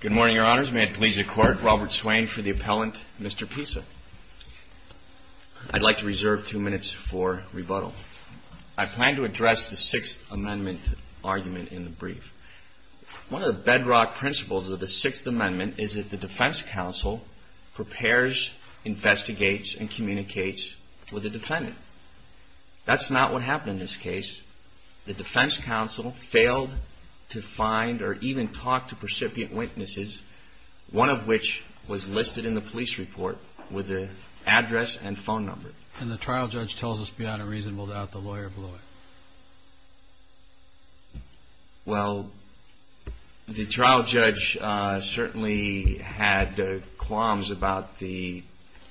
Good morning, Your Honors. May it please the Court, Robert Swain for the Appellant, Mr. Pisa. I'd like to reserve two minutes for rebuttal. I plan to address the Sixth Amendment argument in the brief. One of the bedrock principles of the Sixth Amendment is that the defense counsel prepares, investigates, and communicates with the defendant. That's not what happened in this case. The defense counsel failed to find or even talk to recipient witnesses, one of which was listed in the police report with the address and phone number. And the trial judge tells us beyond a reasonable doubt the lawyer blew it. Well, the trial judge certainly had qualms about the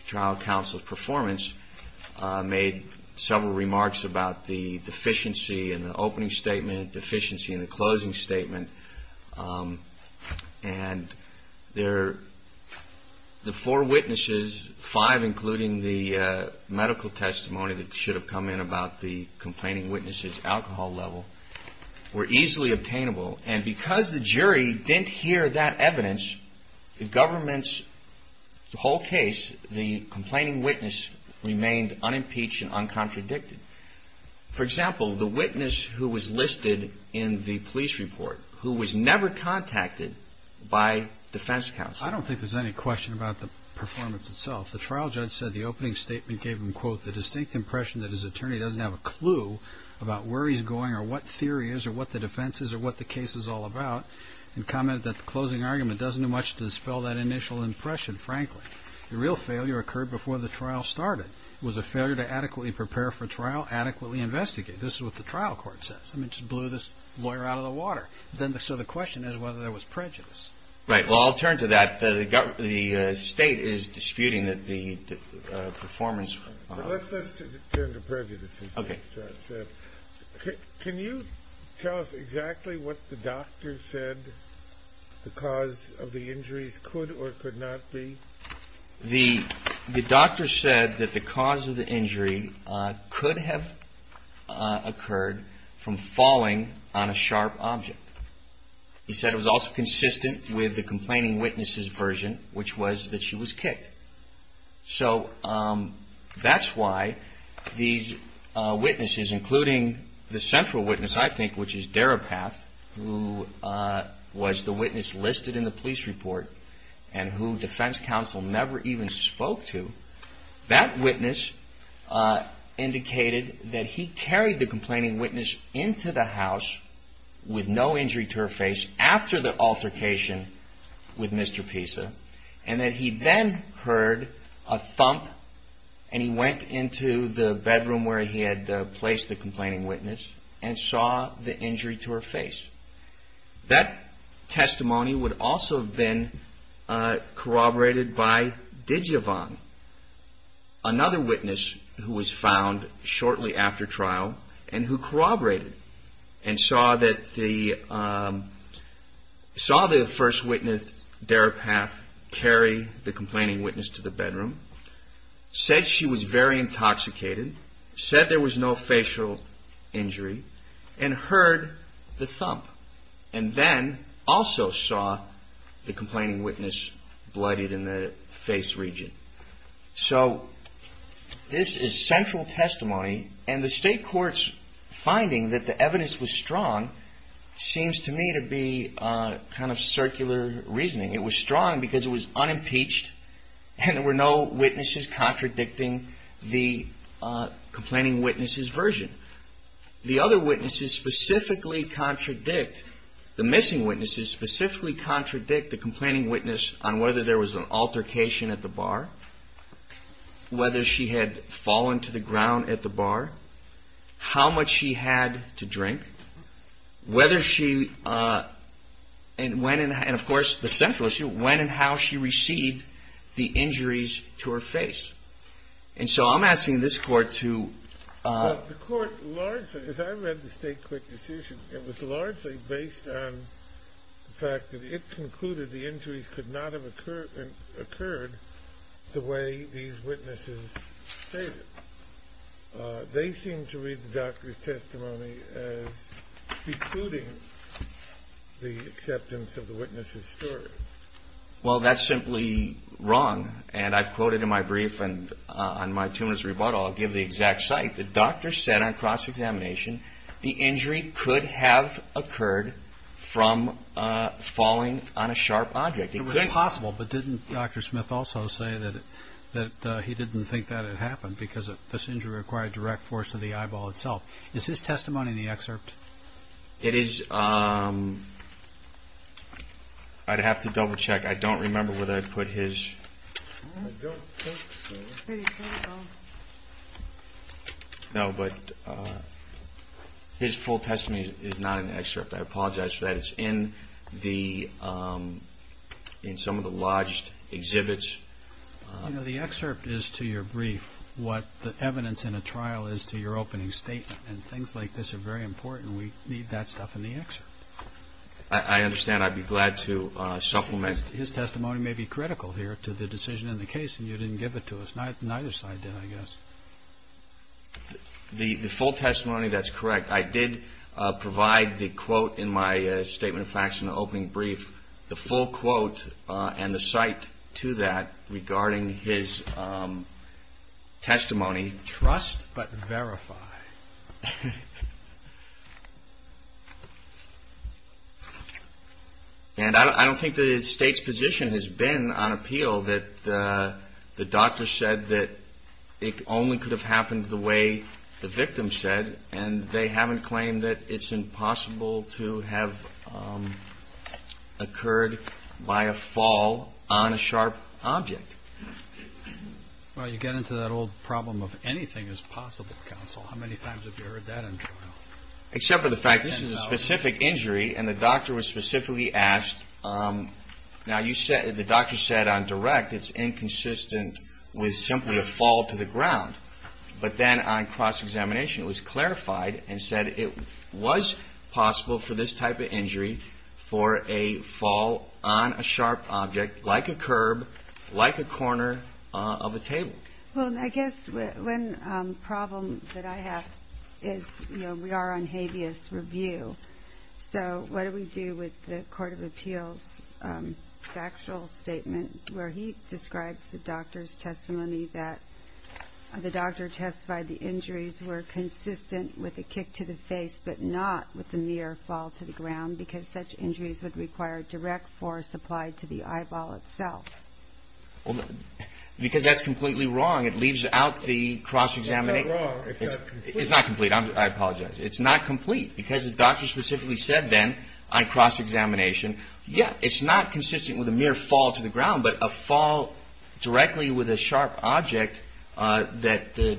trial counsel's performance, made several remarks about the deficiency in the opening statement, deficiency in the closing statement. And the four witnesses, five including the medical testimony that should have come in about the complaining witness's alcohol level, were easily obtainable. And because the jury didn't hear that evidence, the government's whole case, the complaining witness remained unimpeached and uncontradicted. For example, the witness who was listed in the police report, who was never contacted by defense counsel. I don't think there's any question about the performance itself. The trial judge said the opening statement gave him, quote, the distinct impression that his attorney doesn't have a clue about where he's going or what theory is or what the defense is or what the case is all about, and commented that the closing argument doesn't do much to dispel that initial impression, frankly. The real failure occurred before the trial started. It was a failure to adequately prepare for trial, adequately investigate. This is what the trial court says. I mean, it just blew this lawyer out of the water. So the question is whether there was prejudice. Right. Well, I'll turn to that. The state is disputing that the performance… Let's turn to prejudice, as the judge said. Can you tell us exactly what the doctor said the cause of the injuries could or could not be? The doctor said that the cause of the injury could have occurred from falling on a sharp object. He said it was also consistent with the complaining witness's version, which was that she was kicked. So that's why these witnesses, including the central witness, I think, which is Daripath, who was the witness listed in the police report and who defense counsel never even spoke to, that witness indicated that he carried the complaining witness into the house with no injury to her face after the altercation with Mr. Pisa and that he then heard a thump and he went into the bedroom where he had placed the complaining witness and saw the injury to her face. That testimony would also have been corroborated by Digivon, another witness who was found shortly after trial and who corroborated and saw the first witness, Daripath, carry the complaining witness to the bedroom, said she was very intoxicated, said there was no facial injury and heard the thump and then also saw the complaining witness bloodied in the face region. So this is central testimony and the state court's finding that the evidence was strong seems to me to be kind of circular reasoning. It was strong because it was unimpeached and there were no witnesses contradicting the complaining witness's version. The other witnesses specifically contradict, the missing witnesses specifically contradict the complaining witness on whether there was an altercation at the bar, whether she had fallen to the ground at the bar, how much she had to drink, whether she, and of course the central issue, when and how she received the injuries to her face. And so I'm asking this court to... The court largely, as I read the state court decision, it was largely based on the fact that it concluded the injuries could not have occurred the way these witnesses stated. They seem to read the doctor's testimony as precluding the acceptance of the witness's story. Well, that's simply wrong and I've quoted in my brief and on my tumor's rebuttal, I'll give the exact site, the doctor said on cross-examination, the injury could have occurred from falling on a sharp object. It was possible, but didn't Dr. Smith also say that he didn't think that it happened because this injury required direct force to the eyeball itself? Is his testimony in the excerpt? It is... I'd have to double check. I don't remember whether I put his... I don't think so. No, but his full testimony is not in the excerpt. I apologize for that. It's in some of the lodged exhibits. The excerpt is to your brief what the evidence in a trial is to your opening statement, and things like this are very important. We need that stuff in the excerpt. I understand. I'd be glad to supplement. His testimony may be critical here to the decision in the case and you didn't give it to us. Neither side did, I guess. The full testimony, that's correct. I did provide the quote in my statement of facts in the opening brief, the full quote and the site to that regarding his testimony. Trust but verify. And I don't think the State's position has been on appeal that the doctor said that it only could have happened the way the victim said, and they haven't claimed that it's impossible to have occurred by a fall on a sharp object. Well, you get into that old problem of anything is possible, counsel. How many times have you heard that in trial? Except for the fact this is a specific injury and the doctor was specifically asked. Now, the doctor said on direct it's inconsistent with simply a fall to the ground. But then on cross-examination, it was clarified and said it was possible for this type of injury, for a fall on a sharp object like a curb, like a corner of a table. Well, I guess one problem that I have is we are on habeas review. So what do we do with the Court of Appeals factual statement where he describes the doctor's testimony that the doctor testified the injuries were consistent with a kick to the face but not with the mere fall to the ground because such injuries would require direct force applied to the eyeball itself? Well, because that's completely wrong. It leaves out the cross-examination. It's not wrong. It's not complete. I apologize. It's not complete because the doctor specifically said then on cross-examination, yeah, it's not consistent with a mere fall to the ground, but a fall directly with a sharp object that the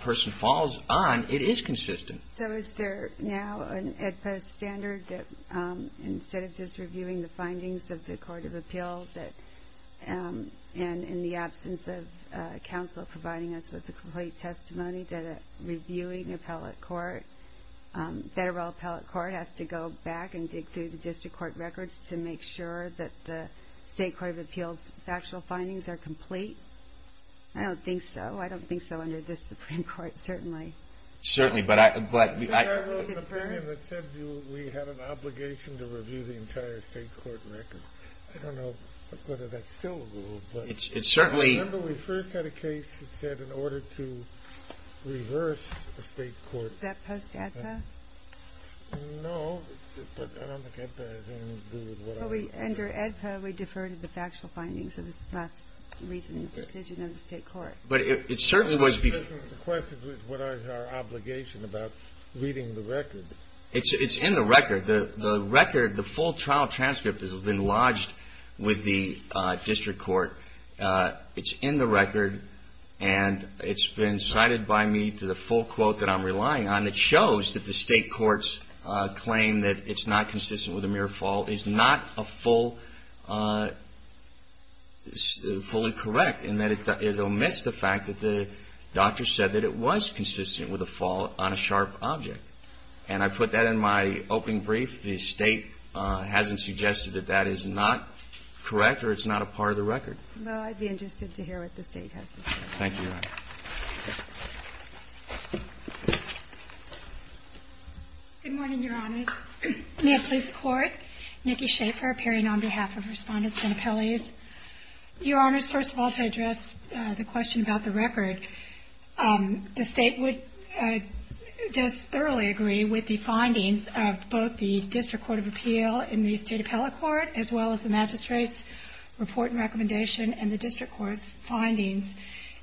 person falls on, it is consistent. So is there now an AEDPA standard that instead of just reviewing the findings of the Court of Appeals and in the absence of counsel providing us with the complete testimony that a reviewing appellate court, federal appellate court has to go back and dig through the district court records to make sure that the State Court of Appeals factual findings are complete? I don't think so. I don't think so under this Supreme Court, certainly. Certainly, but I... We have an obligation to review the entire state court record. I don't know whether that's still a rule, but... It's certainly... Remember we first had a case that said in order to reverse a state court... Is that post-AEDPA? No, but I don't think AEDPA has anything to do with what I... Under AEDPA, we defer to the factual findings of this last recent decision of the state court. But it certainly was... The question is what is our obligation about reading the record? It's in the record. The record, the full trial transcript has been lodged with the district court. It's in the record, and it's been cited by me to the full quote that I'm relying on. It shows that the state court's claim that it's not consistent with a mere fault is not a full... fully correct in that it omits the fact that the doctor said that it was consistent with a fall on a sharp object. And I put that in my opening brief. If the state hasn't suggested that that is not correct or it's not a part of the record. Well, I'd be interested to hear what the state has to say. Thank you, Your Honor. Good morning, Your Honors. May it please the Court? Nikki Schaefer appearing on behalf of Respondents and Appellees. Your Honors, first of all, to address the question about the record, the state would... in the state appellate court as well as the magistrate's report and recommendation and the district court's findings.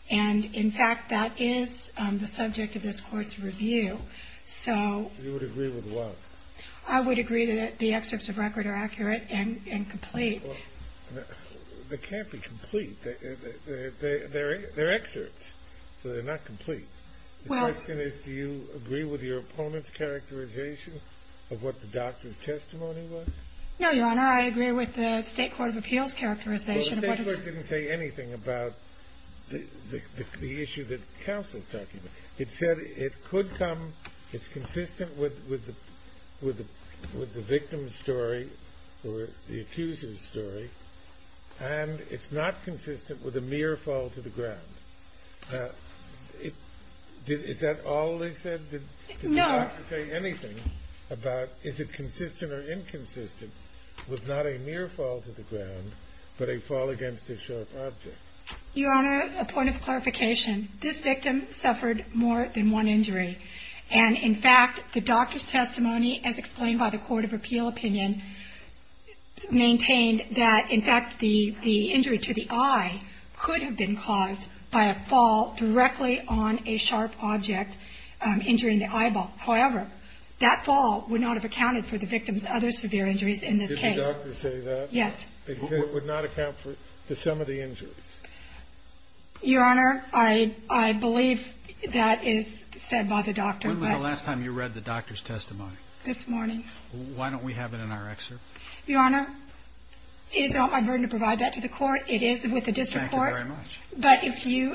And, in fact, that is the subject of this court's review. So... You would agree with what? I would agree that the excerpts of record are accurate and complete. They can't be complete. They're excerpts, so they're not complete. The question is, do you agree with your opponent's characterization of what the doctor's testimony was? No, Your Honor. I agree with the state court of appeals characterization. Well, the state court didn't say anything about the issue that counsel's talking about. It said it could come... It's consistent with the victim's story or the accuser's story. And it's not consistent with a mere fall to the ground. Is that all they said? No. Did the doctor say anything about is it consistent or inconsistent with not a mere fall to the ground, but a fall against a sharp object? Your Honor, a point of clarification. This victim suffered more than one injury. And, in fact, the doctor's testimony, as explained by the court of appeal opinion, maintained that, in fact, the injury to the eye could have been caused by a fall directly on a sharp object injuring the eyeball. However, that fall would not have accounted for the victim's other severe injuries in this case. Did the doctor say that? Yes. It would not account for the sum of the injuries. Your Honor, I believe that is said by the doctor. When was the last time you read the doctor's testimony? This morning. Why don't we have it in our excerpt? Your Honor, it is not my burden to provide that to the court. It is with the district court. Thank you very much. But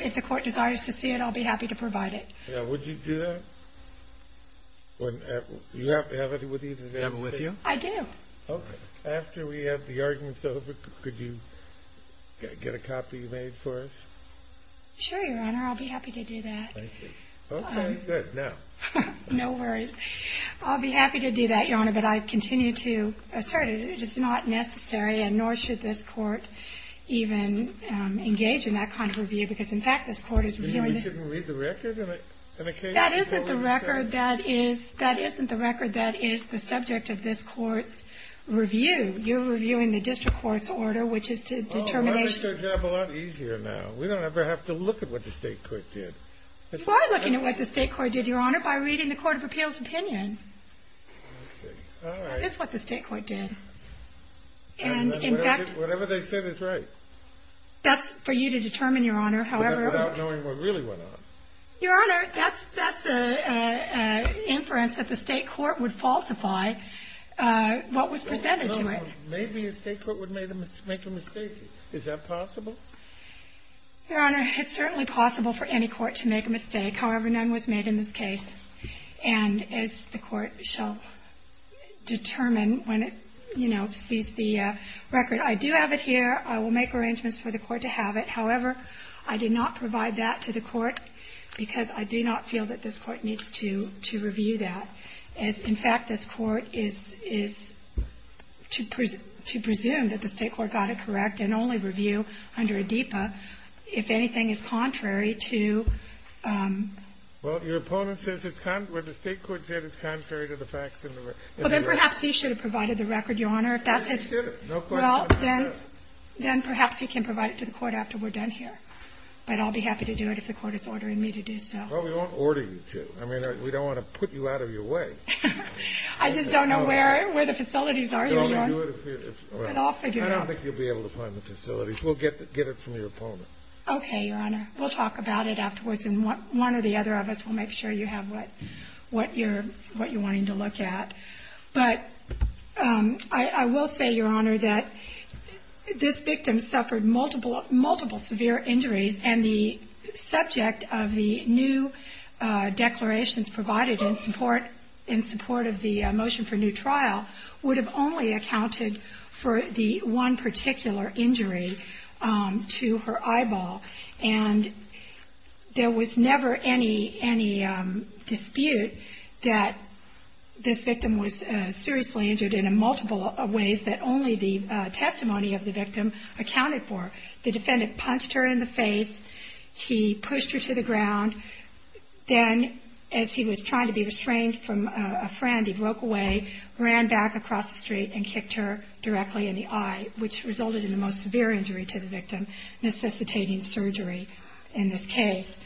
if the court desires to see it, I'll be happy to provide it. Would you do that? Do you have it with you today? Do you have it with you? I do. After we have the arguments over, could you get a copy made for us? Sure, Your Honor. I'll be happy to do that. Thank you. Okay, good. Now. No worries. I'll be happy to do that, Your Honor, but I continue to assert it is not necessary and nor should this court even engage in that kind of review because, in fact, this court is reviewing it. You mean we shouldn't read the record? That isn't the record that is the subject of this court's review. You're reviewing the district court's order, which is to determination. Oh, well, that makes our job a lot easier now. We don't ever have to look at what the state court did. You are looking at what the state court did, Your Honor, by reading the Court of Appeals' opinion. I see. All right. That is what the state court did. And, in fact. Whatever they said is right. That's for you to determine, Your Honor, however. Without knowing what really went on. Your Honor, that's an inference that the state court would falsify what was presented to it. No, no, no. Maybe a state court would make a mistake. Is that possible? Your Honor, it's certainly possible for any court to make a mistake. However, none was made in this case. And as the court shall determine when it, you know, sees the record. I do have it here. I will make arrangements for the court to have it. However, I did not provide that to the court because I do not feel that this court needs to review that. In fact, this court is to presume that the state court got it correct and only review under ADEPA if anything is contrary to. Well, your opponent says where the state court did is contrary to the facts in the record. Well, then perhaps you should have provided the record, Your Honor. I did. No question. Well, then perhaps you can provide it to the court after we're done here. But I'll be happy to do it if the court is ordering me to do so. Well, we won't order you to. I mean, we don't want to put you out of your way. I just don't know where the facilities are, Your Honor. Well, I don't think you'll be able to find the facilities. We'll get it from your opponent. Okay, Your Honor. We'll talk about it afterwards. And one or the other of us will make sure you have what you're wanting to look at. But I will say, Your Honor, that this victim suffered multiple severe injuries. And the subject of the new declarations provided in support of the motion for new trial would have only accounted for the one particular injury to her eyeball. And there was never any dispute that this victim was seriously injured in multiple ways that only the testimony of the victim accounted for. The defendant punched her in the face. He pushed her to the ground. Then, as he was trying to be restrained from a friend, he broke away, ran back across the street, and kicked her directly in the eye, which resulted in the most severe injury to the victim, necessitating surgery in this case.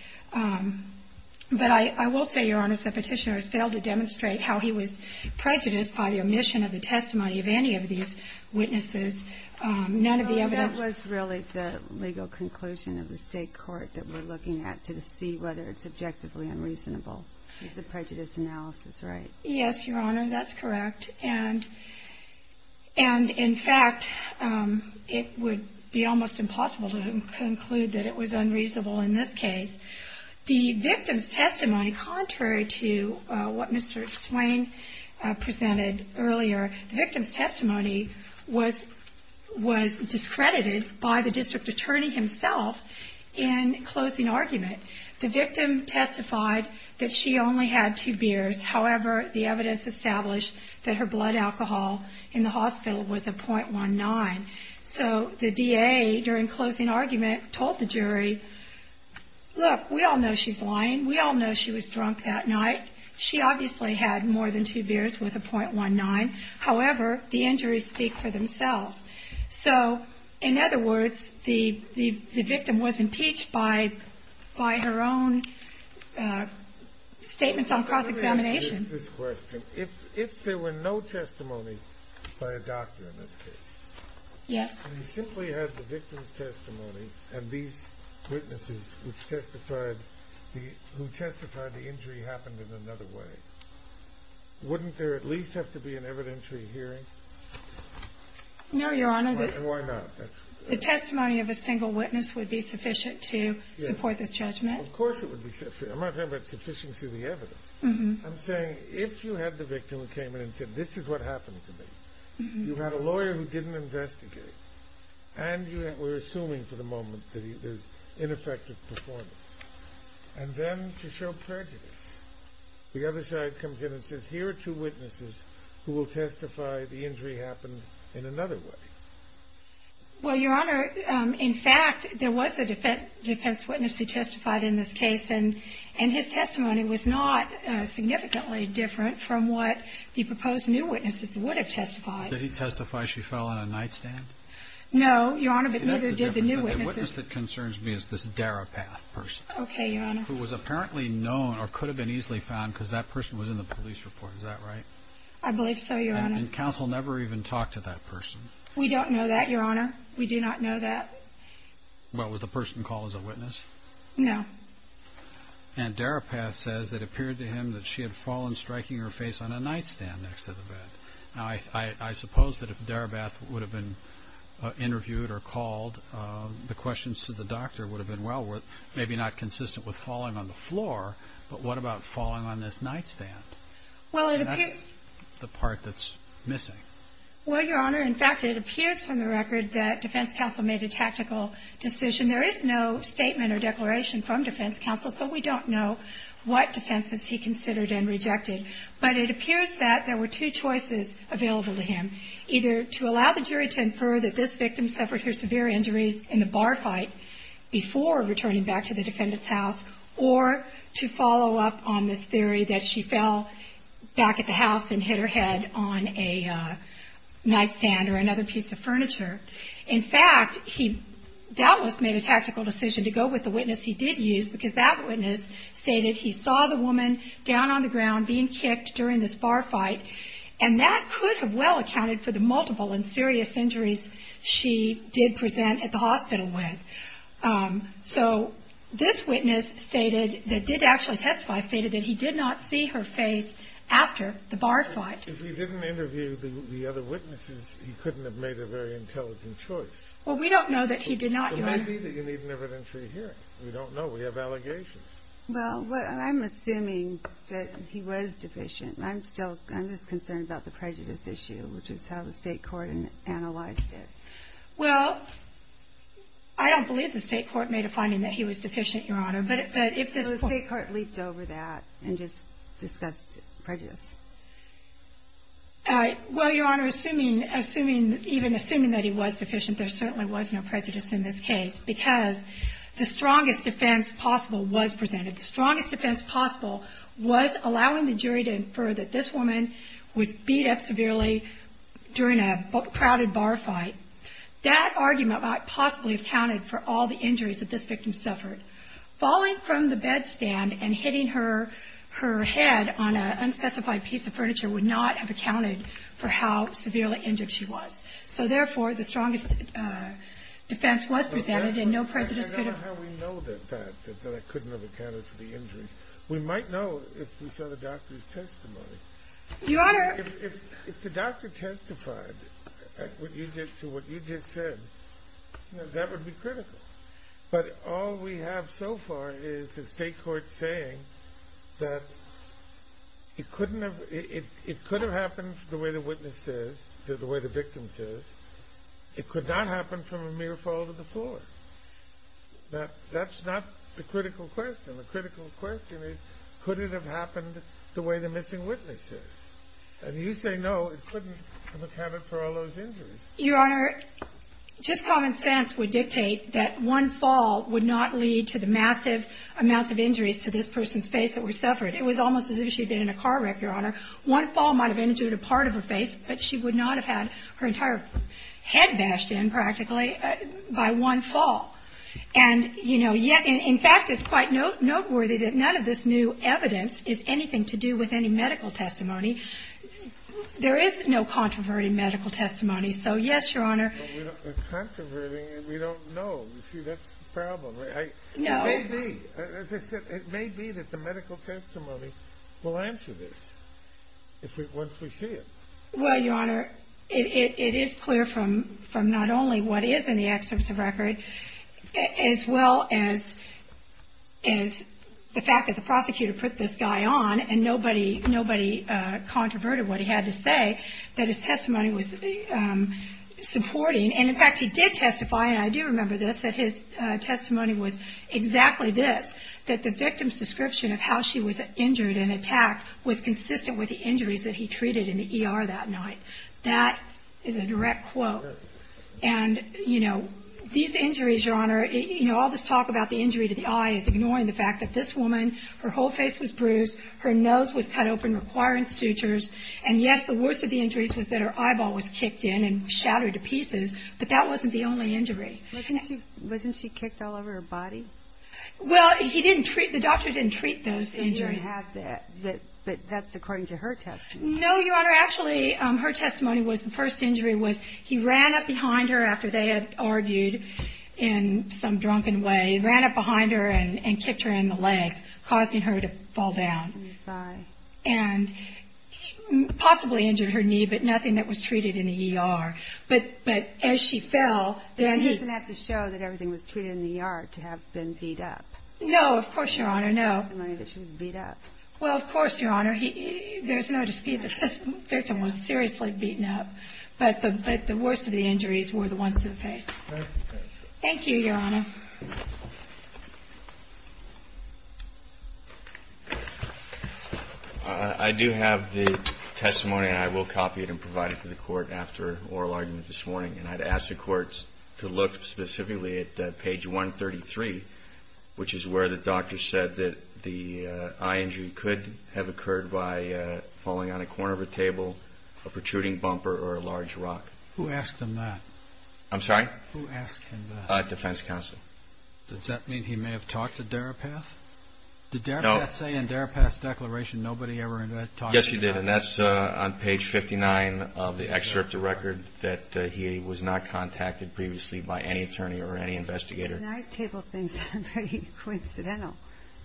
But I will say, Your Honor, that Petitioner has failed to demonstrate how he was prejudiced by the omission of the testimony of any of these witnesses. None of the evidence ---- That was really the legal conclusion of the state court that we're looking at to see whether it's objectively unreasonable. It's the prejudice analysis, right? Yes, Your Honor, that's correct. And, in fact, it would be almost impossible to conclude that it was unreasonable in this case. The victim's testimony, contrary to what Mr. Swain presented earlier, the victim's testimony was discredited by the district attorney himself in closing argument. The victim testified that she only had two beers. However, the evidence established that her blood alcohol in the hospital was a .19. So the DA, during closing argument, told the jury, Look, we all know she's lying. We all know she was drunk that night. She obviously had more than two beers with a .19. However, the injuries speak for themselves. So, in other words, the victim was impeached by her own statements on cross-examination. Let me ask you this question. If there were no testimony by a doctor in this case, and you simply had the victim's testimony and these witnesses who testified the injury happened in another way, wouldn't there at least have to be an evidentiary hearing? No, Your Honor. Why not? The testimony of a single witness would be sufficient to support this judgment. Of course it would be sufficient. I'm not talking about sufficiency of the evidence. I'm saying if you had the victim who came in and said, This is what happened to me. You had a lawyer who didn't investigate. And we're assuming for the moment that there's ineffective performance. And then to show prejudice. The other side comes in and says, Here are two witnesses who will testify the injury happened in another way. Well, Your Honor, in fact, there was a defense witness who testified in this case. And his testimony was not significantly different from what the proposed new witnesses would have testified. Did he testify she fell on a nightstand? No, Your Honor, but neither did the new witnesses. The witness that concerns me is this therapist person. Okay, Your Honor. Who was apparently known or could have been easily found because that person was in the police report. Is that right? I believe so, Your Honor. And counsel never even talked to that person. We don't know that, Your Honor. We do not know that. Well, was the person called as a witness? No. And Darabath says that it appeared to him that she had fallen, striking her face on a nightstand next to the bed. Now, I suppose that if Darabath would have been interviewed or called, the questions to the doctor would have been well worth. Maybe not consistent with falling on the floor, but what about falling on this nightstand? Well, it appears. That's the part that's missing. Well, Your Honor, in fact, it appears from the record that defense counsel made a tactical decision. There is no statement or declaration from defense counsel, so we don't know what defenses he considered and rejected. But it appears that there were two choices available to him, either to allow the jury to infer that this victim suffered her severe injuries in the bar fight before returning back to the defendant's house, or to follow up on this theory that she fell back at the house and hit her head on a nightstand or another piece of furniture. In fact, he doubtless made a tactical decision to go with the witness he did use, because that witness stated he saw the woman down on the ground being kicked during this bar fight, and that could have well accounted for the multiple and serious injuries she did present at the hospital with. So this witness stated, that did actually testify, stated that he did not see her face after the bar fight. If he didn't interview the other witnesses, he couldn't have made a very intelligent choice. Well, we don't know that he did not, Your Honor. So maybe you need an evidentiary hearing. We don't know. We have allegations. Well, I'm assuming that he was deficient. I'm just concerned about the prejudice issue, which is how the state court analyzed it. Well, I don't believe the state court made a finding that he was deficient, Your Honor. But if this court… The state court leaped over that and just discussed prejudice. Well, Your Honor, even assuming that he was deficient, there certainly was no prejudice in this case, because the strongest defense possible was presented. The strongest defense possible was allowing the jury to infer that this woman was beat up severely during a crowded bar fight. That argument might possibly have counted for all the injuries that this victim suffered. Falling from the bed stand and hitting her head on an unspecified piece of furniture would not have accounted for how severely injured she was. So therefore, the strongest defense was presented and no prejudice could have… Somehow we know that that couldn't have accounted for the injuries. We might know if we saw the doctor's testimony. Your Honor… If the doctor testified to what you just said, that would be critical. But all we have so far is the state court saying that it could have happened the way the witness says, the way the victim says. It could not happen from a mere fall to the floor. That's not the critical question. The critical question is, could it have happened the way the missing witness says? And you say no, it couldn't have accounted for all those injuries. Your Honor, just common sense would dictate that one fall would not lead to the massive amounts of injuries to this person's face that were suffered. It was almost as if she had been in a car wreck, Your Honor. One fall might have injured a part of her face, but she would not have had her entire head bashed in, practically, by one fall. And, you know, in fact, it's quite noteworthy that none of this new evidence is anything to do with any medical testimony. There is no controversy in medical testimony. So, yes, Your Honor… But we don't know. You see, that's the problem. No. It may be. As I said, it may be that the medical testimony will answer this once we see it. Well, Your Honor, it is clear from not only what is in the excerpts of record, as well as the fact that the prosecutor put this guy on, and nobody controverted what he had to say, that his testimony was supporting. And, in fact, he did testify, and I do remember this, that his testimony was exactly this, that the victim's description of how she was injured and attacked was consistent with the injuries that he treated in the ER that night. That is a direct quote. And, you know, these injuries, Your Honor, you know, all this talk about the injury to the eye is ignoring the fact that this woman, her whole face was bruised, her nose was cut open requiring sutures, and, yes, the worst of the injuries was that her eyeball was kicked in and shattered to pieces, but that wasn't the only injury. Wasn't she kicked all over her body? Well, the doctor didn't treat those injuries. But that's according to her testimony. No, Your Honor. Actually, her testimony was the first injury was he ran up behind her after they had argued in some drunken way, ran up behind her and kicked her in the leg, causing her to fall down. And possibly injured her knee, but nothing that was treated in the ER. But as she fell... He didn't have to show that everything was treated in the ER to have been beat up. No, of course, Your Honor, no. Well, of course, Your Honor, there's no dispute that this victim was seriously beaten up, but the worst of the injuries were the ones to the face. Thank you, Your Honor. I do have the testimony, and I will copy it and provide it to the court after oral argument this morning. And I'd ask the courts to look specifically at page 133, which is where the doctor said that the eye injury could have occurred by falling on a corner of a table, a protruding bumper, or a large rock. Who asked him that? I'm sorry? Who asked him that? Defense counsel. Does that mean he may have talked to Darapath? Did Darapath say in Darapath's declaration nobody ever talked to Darapath? Yes, he did. And that's on page 59 of the excerpt of record that he was not contacted previously by any attorney or any investigator. Can I table things that are very coincidental?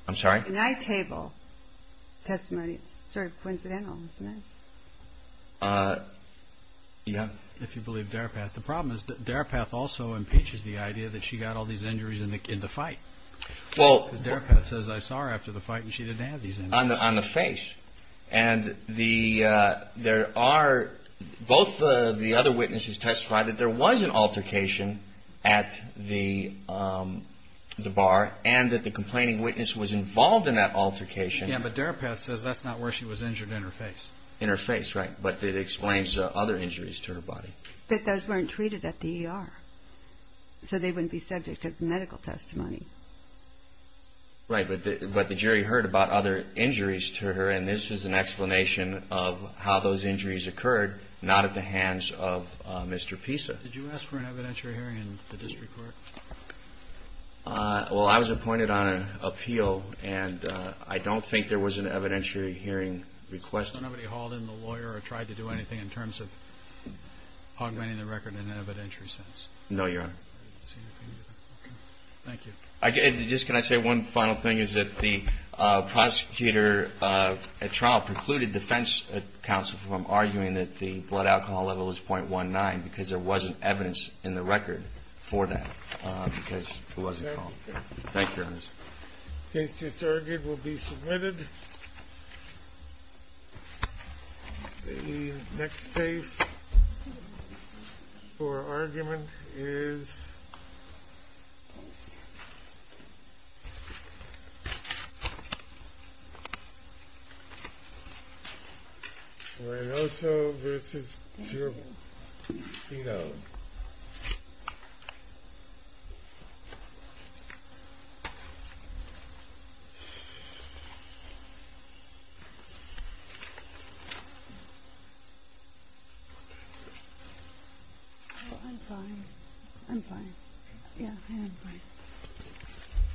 I'm sorry? Can I table testimony that's sort of coincidental? Yeah. If you believe Darapath. The problem is that Darapath also impeaches the idea that she got all these injuries in the fight. Well. Darapath says I saw her after the fight and she didn't have these injuries. On the face. And there are both the other witnesses testify that there was an altercation at the bar and that the complaining witness was involved in that altercation. Yeah, but Darapath says that's not where she was injured in her face. In her face, right. But it explains other injuries to her body. But those weren't treated at the ER. So they wouldn't be subject to medical testimony. Right, but the jury heard about other injuries to her, and this is an explanation of how those injuries occurred not at the hands of Mr. Pisa. Did you ask for an evidentiary hearing in the district court? Well, I was appointed on an appeal, and I don't think there was an evidentiary hearing requested. So nobody hauled in the lawyer or tried to do anything in terms of augmenting the record in an evidentiary sense? No, Your Honor. Okay. Thank you. Just can I say one final thing is that the prosecutor at trial precluded defense counsel from arguing that the blood alcohol level was 0.19 because there wasn't evidence in the record for that, because it wasn't called. Thank you, Your Honor. The case just argued will be submitted. The next case for argument is Reynoso v. Giordano. I'm fine. I'm fine. Yeah, I'm fine.